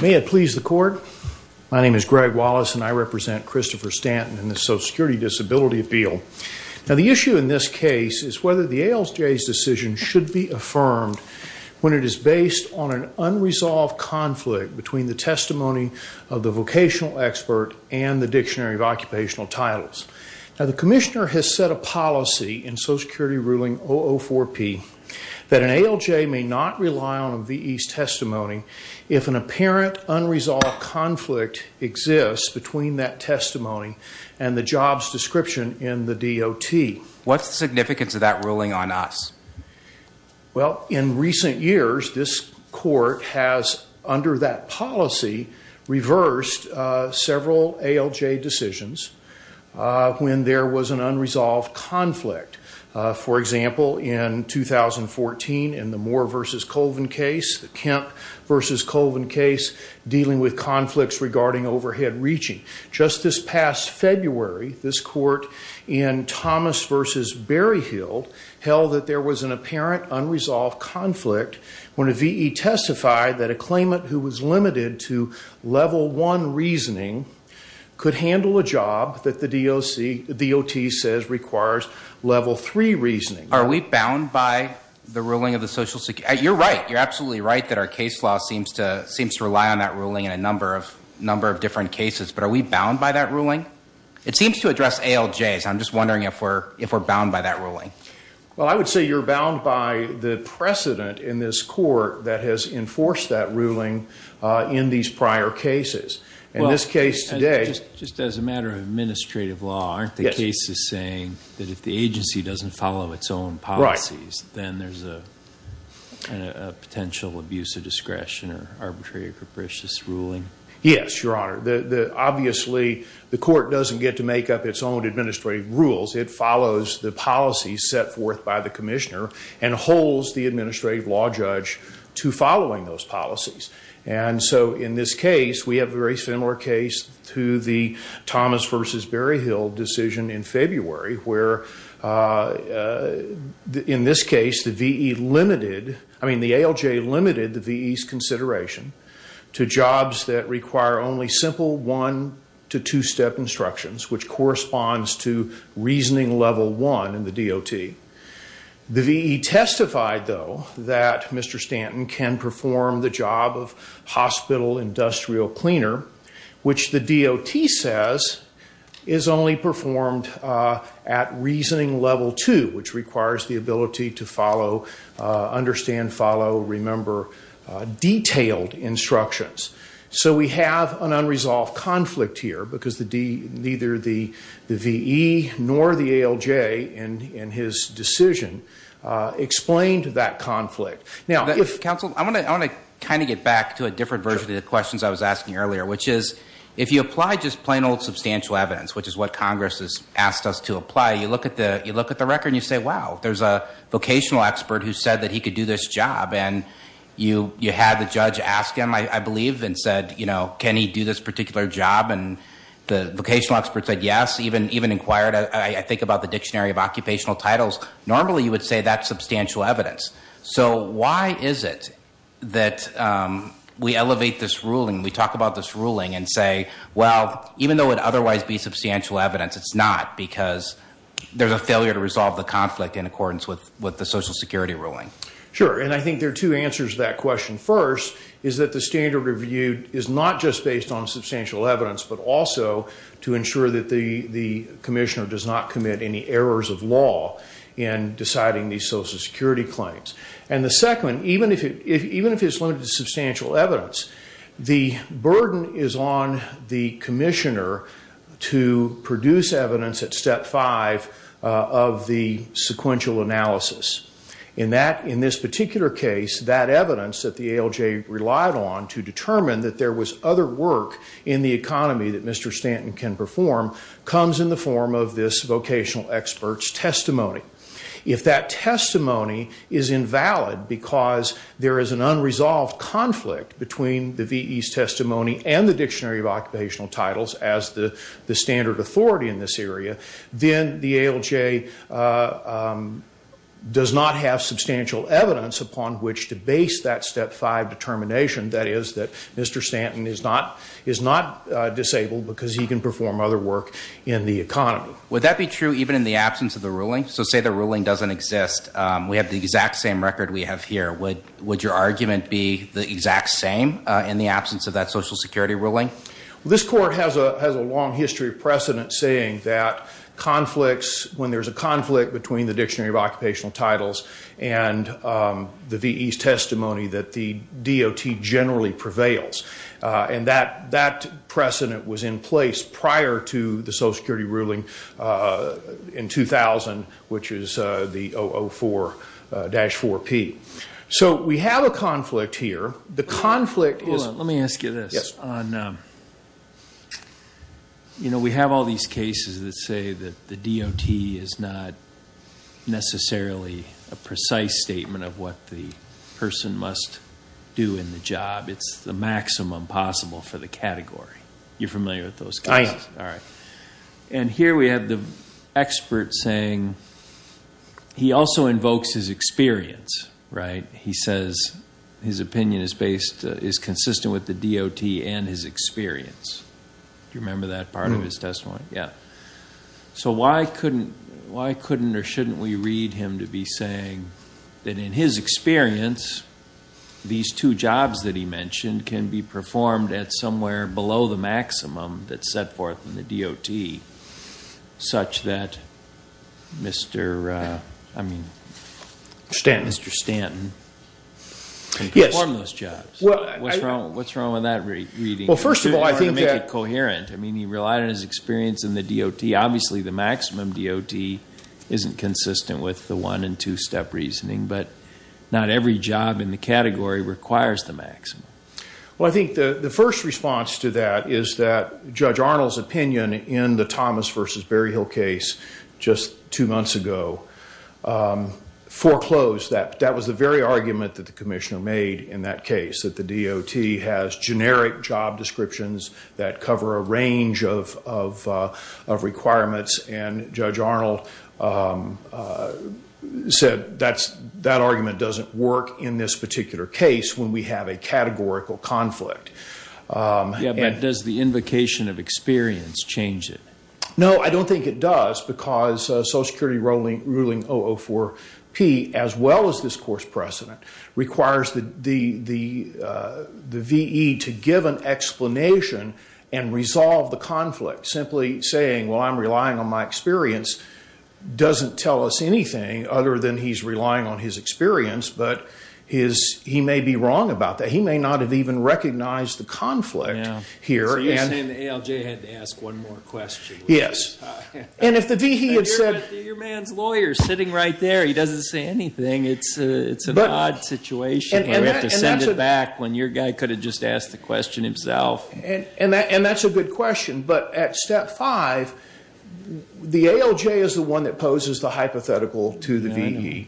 May it please the Court, my name is Greg Wallace and I represent Christopher Stanton and the Social Security Disability Appeal. Now the issue in this case is whether the ALJ's decision should be affirmed when it is based on an unresolved conflict between the testimony of the vocational expert and the Dictionary of Occupational Titles. Now the Commissioner has set a policy in Social Security Ruling 004-P that an ALJ may not rely on a VE's testimony if an apparent unresolved conflict exists between that testimony and the job's description in the DOT. What's the significance of that ruling on us? Well, in recent years, this unresolved conflict, for example, in 2014 in the Moore v. Colvin case, the Kemp v. Colvin case, dealing with conflicts regarding overhead reaching. Just this past February, this Court in Thomas v. Berryhill held that there was an apparent unresolved conflict when a VE testified that a claimant who was limited to level one reasoning could handle a job that the DOT says requires level three reasoning. Are we bound by the ruling of the Social Security? You're right. You're absolutely right that our case law seems to rely on that ruling in a number of different cases. But are we bound by that ruling? It seems to address ALJs. I'm just wondering if we're bound by that ruling. Well, I would say you're bound by the precedent in this Court that has enforced that ruling in these prior cases. In this matter of administrative law, aren't the cases saying that if the agency doesn't follow its own policies, then there's a potential abuse of discretion or arbitrary or capricious ruling? Yes, Your Honor. Obviously, the Court doesn't get to make up its own administrative rules. It follows the policies set forth by the Commissioner and holds the administrative law judge to following those policies. And so in this case, we have a very similar case to the Thomas v. Berryhill decision in February where, in this case, the ALJ limited the V.E.'s consideration to jobs that require only simple one- to two-step instructions, which corresponds to reasoning level one in the DOT. The V.E. testified, though, that Mr. Stanton can perform the job of hospital industrial cleaner, which the DOT says is only performed at reasoning level two, which requires the ability to follow, understand, follow, remember detailed instructions. So we have an unresolved conflict here because neither the V.E. nor the ALJ in his decision explained that conflict. Now, if... Counsel, I want to kind of get back to a different version of the questions I was asking earlier, which is, if you apply just plain old substantial evidence, which is what Congress has asked us to apply, you look at the record and you say, wow, there's a vocational expert who said that he could do this job. And you had the judge ask him, I believe, and said, you know, can he do this particular job? And the vocational expert said yes, even inquired, I think, about the Dictionary of Occupational Titles. Normally, you would say that's substantial evidence. So why is it that we elevate this ruling, we talk about this ruling and say, well, even though it would otherwise be substantial evidence, it's not because there's a failure to resolve the conflict in accordance with the Social Security ruling? Sure. And I think there are two answers to that question. First is that the standard reviewed is not just based on substantial evidence, but also to the Commissioner does not commit any errors of law in deciding these Social Security claims. And the second, even if it's limited to substantial evidence, the burden is on the Commissioner to produce evidence at step five of the sequential analysis. In this particular case, that evidence that the ALJ relied on to determine that there was other work in the economy that Mr. Stanton can perform comes in the form of this vocational expert's testimony. If that testimony is invalid because there is an unresolved conflict between the VE's testimony and the Dictionary of Occupational Titles as the standard authority in this area, then the ALJ does not have substantial evidence upon which to base that step five determination, that is, that Mr. Stanton is not disabled because he can perform other work in the economy. Would that be true even in the absence of the ruling? So say the ruling doesn't exist, we have the exact same record we have here, would your argument be the exact same in the absence of that Social Security ruling? This Court has a long history of precedent saying that conflicts, when there's a conflict between the Dictionary of Occupational Titles and the VE's testimony, that the DOT generally prevails. And that precedent was in place prior to the Social Security ruling in 2000, which is the 004-4P. So we have a conflict here. The conflict is... Hold on, let me ask you this. We have all these cases that say that the DOT is not necessarily a precise statement of what the person must do in the job. It's the maximum possible for the category. You're familiar with those cases? I am. All right. And here we have the expert saying he also invokes his experience, right? He says his opinion is based, is consistent with the DOT and his experience. Do you remember that part of his testimony? Yeah. So why couldn't or shouldn't we read him to be saying that in his experience, these two jobs that he mentioned can be performed at somewhere below the maximum that's set forth in the DOT, such that Mr. Stanton can perform those jobs? What's wrong with that reading? Well, first of all, I think that... To make it coherent. I mean, he relied on his experience in the DOT. Obviously, the maximum DOT isn't consistent with the one and two-step reasoning, but not every job in the category requires the maximum. Well, I think the first response to that is that Judge Arnold's opinion in the Thomas v. Berryhill case just two months ago foreclosed that that was the very argument that the commissioner made in that case, that the DOT has generic job descriptions that cover a range of requirements. And Judge Arnold said that argument doesn't work in this particular case when we have a categorical conflict. Yeah, but does the invocation of experience change it? No, I don't think it does because Social Security ruling 004-P, as well as this course precedent, requires the V.E. to give an explanation and resolve the conflict. Simply saying, well, I'm relying on my experience doesn't tell us anything other than he's relying on his experience, but he may be wrong about that. He may not have even recognized the conflict here. So you're saying the ALJ had to ask one more question. Yes. And if the V.E. had said... Your man's lawyer is sitting right there. He doesn't say anything. It's an odd situation. We have to send it back when your guy could have just asked the question himself. And that's a good question, but at step five, the ALJ is the one that poses the hypothetical to the V.E.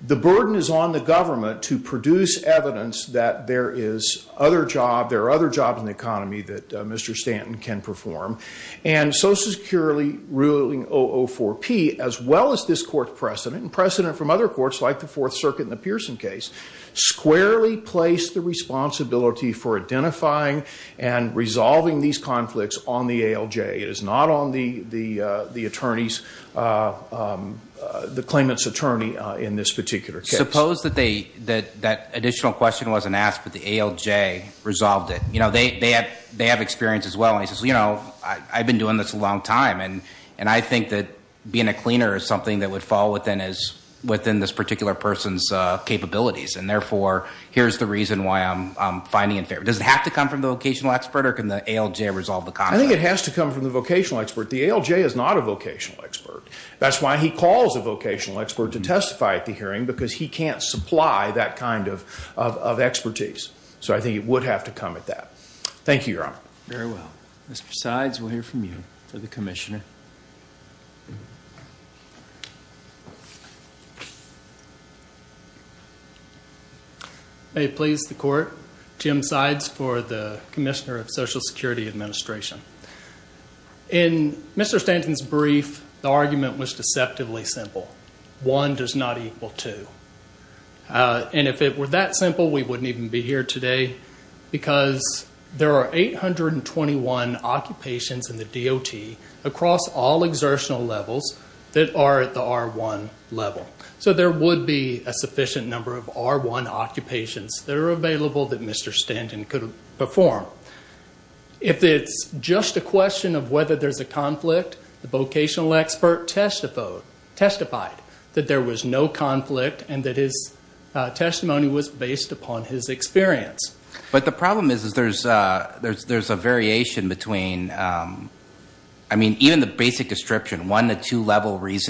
The burden is on the government to produce evidence that there is other jobs, there are other jobs in the economy that Mr. Stanton can perform. And Social Security ruling 004-P, as well as this court precedent, and precedent from other courts like the Fourth Circuit and the Pearson case, squarely place the responsibility for identifying and resolving these conflicts on the ALJ. It is not on the attorney's, the claimant's attorney in this particular case. Suppose that that additional question wasn't asked, but the ALJ resolved it. You know, they have experience as well. And he says, you know, I've been doing this a long time. And I think that being a cleaner is something that would fall within this particular person's capabilities. And therefore, here's the reason why I'm finding it fair. Does it have to come from the vocational expert or can the ALJ resolve the conflict? I think it has to come from the vocational expert. The ALJ is not a vocational expert. That's why he calls a vocational expert to testify at the hearing, because he can't supply that kind of expertise. So I think it would have to come at that. Thank you, Your Honor. Very well. Mr. Sides, we'll hear from you for the commissioner. May it please the court. Jim Sides for the Commissioner of Social Security Administration. In Mr. Stanton's brief, the argument was deceptively simple. One does not equal two. And if it were that simple, we wouldn't even be here today, because there are 821 occupations in the DOT across all exertional levels that are at the R1 level. So there would be a sufficient number of R1 occupations that are available that Mr. Stanton could perform. If it's just a question of whether there's a conflict, the vocational expert testified that there was no conflict and that his testimony was based upon his experience. But the problem is there's a variation between, I mean, even the basic description, one to two things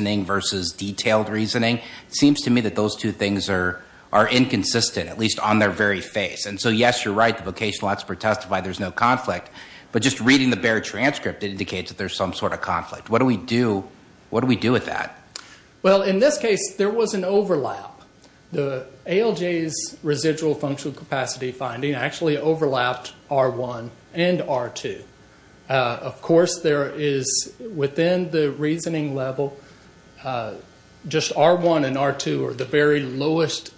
are inconsistent, at least on their very face. And so, yes, you're right, the vocational expert testified there's no conflict. But just reading the bare transcript indicates that there's some sort of conflict. What do we do? What do we do with that? Well, in this case, there was an overlap. The ALJ's residual functional capacity finding actually overlapped R1 and R2. Of course, there is, within the reasoning level, just R1 and R2 are the very lowest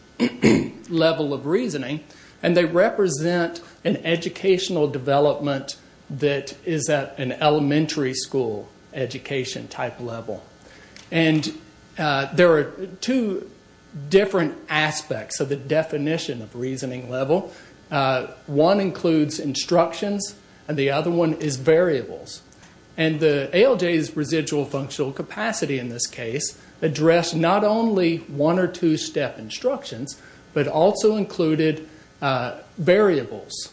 level of reasoning, and they represent an educational development that is at an elementary school education type level. And there are two different aspects of the definition of reasoning level. One includes instructions, and the other one is not only one or two step instructions, but also included variables,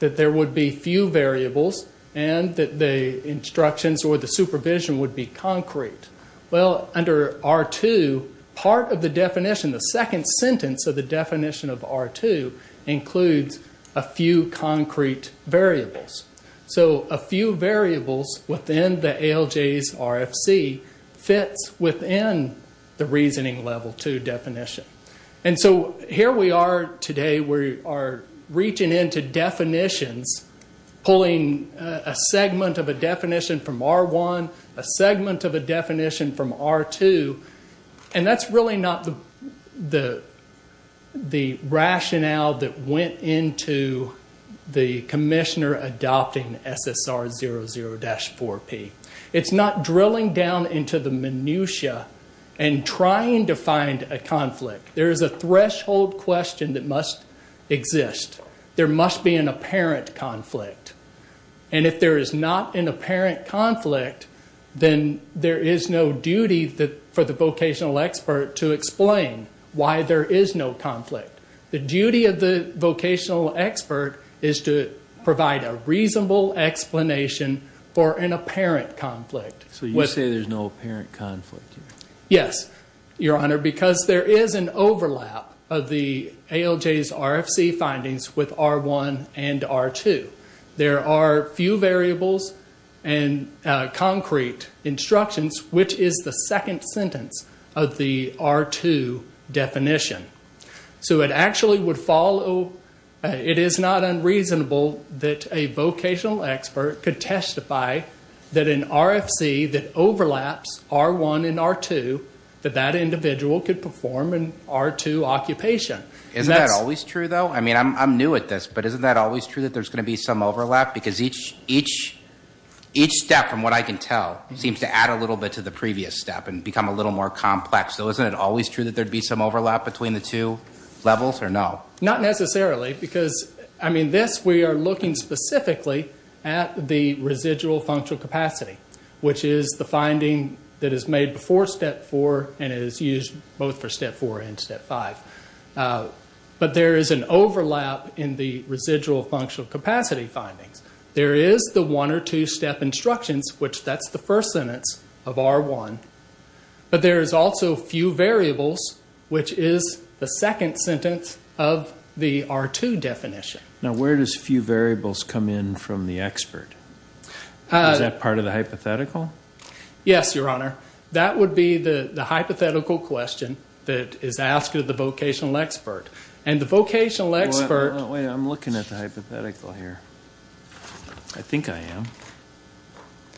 that there would be few variables and that the instructions or the supervision would be concrete. Well, under R2, part of the definition, the second sentence of the definition of R2 includes a few concrete variables. So a few variables within the ALJ's RFC fits within the reasoning level two definition. And so here we are today, we are reaching into definitions, pulling a segment of a definition from R1, a segment of a definition from R2, and that's really not the rationale that went into the commissioner adopting SSR00-4P. It's not drilling down into the minutia and trying to find a conflict. There is a threshold question that must exist. There must be an apparent conflict. And if there is not an apparent conflict, then there is no duty for the vocational expert to explain why there is no conflict. The duty of the vocational expert is to provide a reasonable explanation for an apparent conflict. So you say there's no apparent conflict here? Yes, Your Honor, because there is an overlap of the ALJ's RFC findings with R1 and R2. There are few variables and concrete instructions, which is the second sentence of the R2 definition. So it actually would follow, it is not unreasonable that a vocational expert could testify that an RFC that overlaps R1 and R2, that that individual could perform an R2 occupation. Isn't that always true though? I mean, I'm new at this, but isn't that always true that there's going to be some overlap? Because each step, from what I can tell, seems to add a little bit to the previous step and become a little more complex. So isn't it always true that there would be some overlap between the two levels, or no? Not necessarily, because, I mean, this we are looking specifically at the residual functional capacity, which is the finding that is made before step four and is used both for step four and step five. But there is an overlap in the residual functional capacity findings. There is the one or two step instructions, which that's the first sentence of R1, but there is also few variables, which is the second sentence of the R2 definition. Now where does few variables come in from the expert? Is that part of the hypothetical? Yes, Your Honor. That would be the hypothetical question that is asked of the vocational expert. And the vocational expert... Wait, I'm looking at the hypothetical here. I think I am.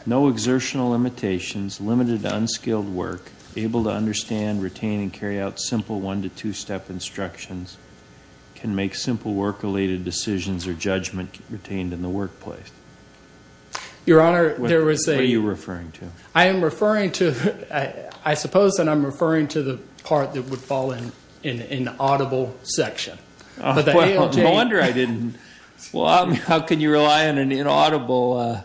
No exertional limitations, limited unskilled work, able to understand, retain, and carry out simple one to two step instructions can make simple work-related decisions or judgment retained in the workplace. Your Honor, there was a... What are you referring to? I am referring to, I suppose that I am referring to the part that would fall in the audible section. No wonder I didn't. How can you rely on an inaudible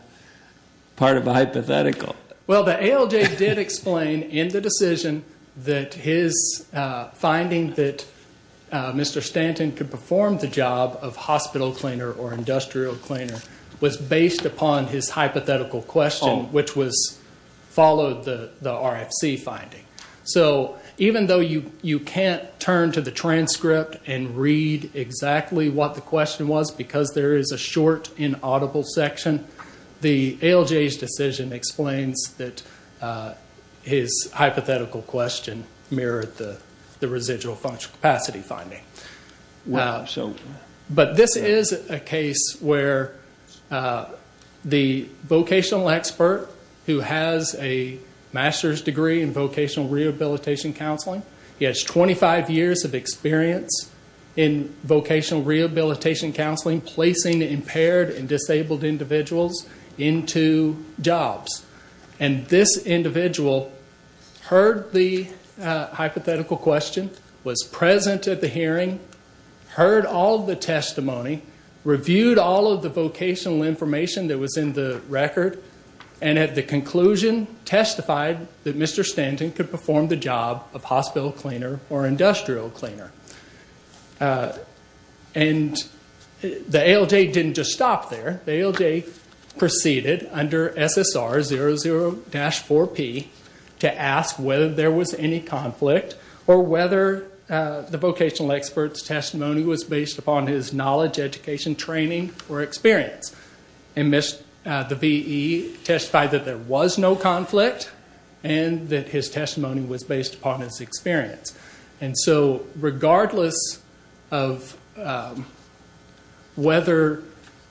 part of a hypothetical? Well the ALJ did explain in the decision that his finding that Mr. Stanton could perform the job of hospital cleaner or industrial cleaner was based upon his hypothetical question, which followed the RFC finding. So even though you can't turn to the transcript and read exactly what the question was because there is a short inaudible section, the ALJ's decision explains that his hypothetical question mirrored the residual capacity finding. Wow. But this is a case where the vocational expert who has a master's degree in vocational rehabilitation counseling, he has 25 years of experience in vocational rehabilitation counseling, placing impaired and disabled individuals into jobs. And this individual heard the hypothetical question, was present at the hearing, heard all the testimony, reviewed all of the vocational information that was in the record, and at the conclusion testified that Mr. Stanton could perform the job of hospital cleaner or industrial cleaner. And the ALJ didn't just stop there. The ALJ proceeded under SSR 00-4P to ask whether there was any conflict or whether the vocational expert's testimony was based upon his knowledge, education, training, or experience. And the VE testified that there was no conflict and that his testimony was based upon his experience. And so regardless of whether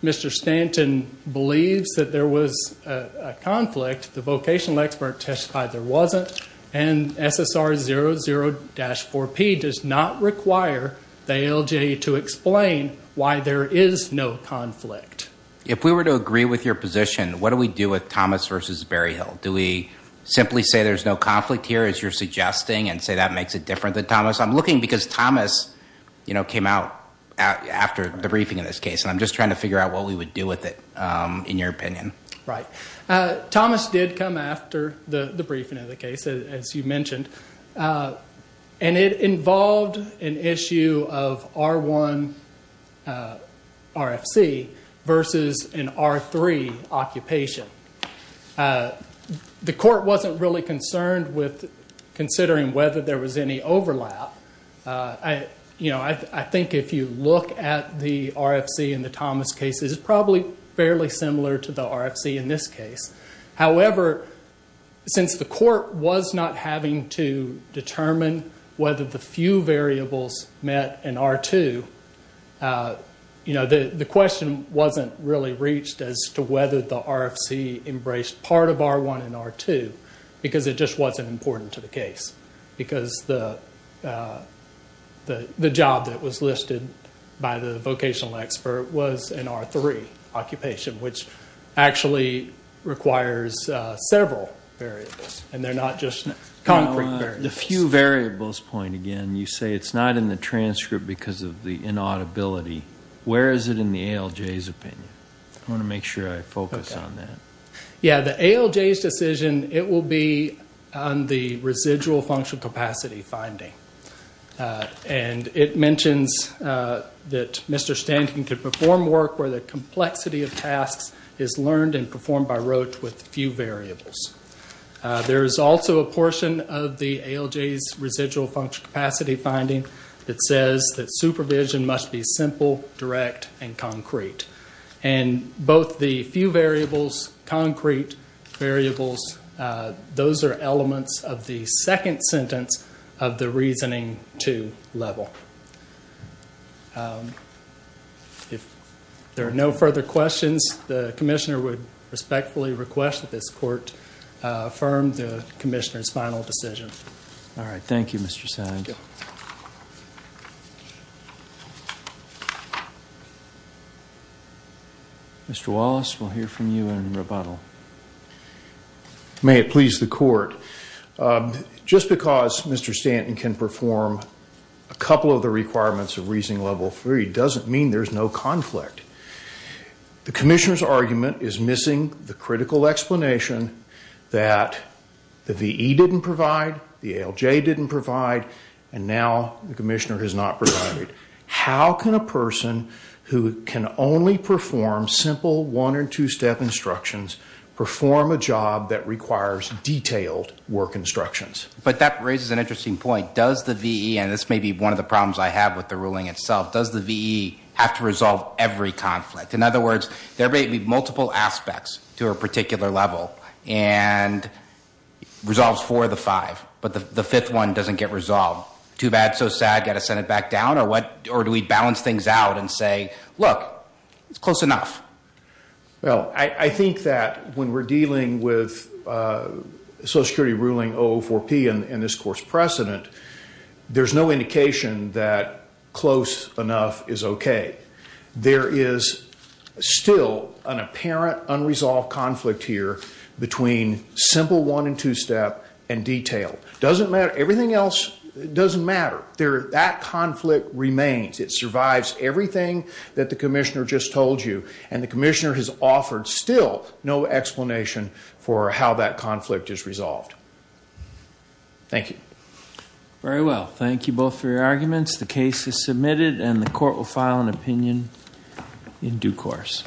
Mr. Stanton believes that there was a conflict, the vocational expert testified there wasn't, and SSR 00-4P does not require the ALJ to explain why there is no conflict. If we were to agree with your position, what do we do with Thomas v. Berryhill? Do we simply say there's no conflict here, as you're suggesting, and say that makes it different than Thomas? I'm looking because Thomas came out after the briefing in this case, and I'm just trying to figure out what we would do with it, in your opinion. Right. Thomas did come after the briefing of the case, as you mentioned, and it involved an issue of R1 RFC versus an R3 occupation. The court wasn't really concerned with considering whether there was any overlap. I think if you look at the RFC in the Thomas case, it's probably fairly similar to the RFC in this case. However, since the court was not having to determine whether the few variables met an R2, the question wasn't really reached as to whether the RFC embraced part of R1 and R2, because it just wasn't important to the case, because the job that was listed by the vocational expert was an R3 occupation, which actually requires several variables, and they're not just concrete variables. The few variables point, again, you say it's not in the transcript because of the inaudibility. Where is it in the ALJ's opinion? I want to make sure I focus on that. Yeah, the ALJ's decision, it will be on the residual functional capacity finding. It mentions that Mr. Stanton could perform work where the complexity of tasks is learned and performed by Roche with few variables. There is also a portion of the ALJ's residual functional capacity finding that says that supervision must be simple, direct, and concrete. And both the few variables, concrete variables, those are elements of the second sentence of the reasoning two level. If there are no further questions, the commissioner would respectfully request that this court affirm the commissioner's final decision. All right. Thank you, Mr. Sands. Mr. Wallace, we'll hear from you in rebuttal. May it please the court. Just because Mr. Stanton can perform a couple of the requirements of reasoning level three doesn't mean there's no conflict. The commissioner's argument is missing the critical explanation that the VE didn't provide, the ALJ didn't provide, and now the commissioner has not provided. How can a person who can only perform simple one or two step instructions perform a job that requires detailed work instructions? But that raises an interesting point. Does the VE, and this may be one of the problems I have with the ruling itself, does the VE have to resolve every conflict? In other words, there may be multiple aspects to a particular level and resolves four of the five, but the VE has to resolve them. Too bad, so sad, got to send it back down? Or do we balance things out and say, look, it's close enough? Well, I think that when we're dealing with Social Security ruling 004P and this court's precedent, there's no indication that close enough is okay. There is still an apparent unresolved conflict here between simple one and two step and detail. Doesn't matter, everything else doesn't matter. That conflict remains. It survives everything that the commissioner just told you, and the commissioner has offered still no explanation for how that conflict is resolved. Thank you. Very well. Thank you both for your arguments. The case is submitted and the court will file an opinion in due course.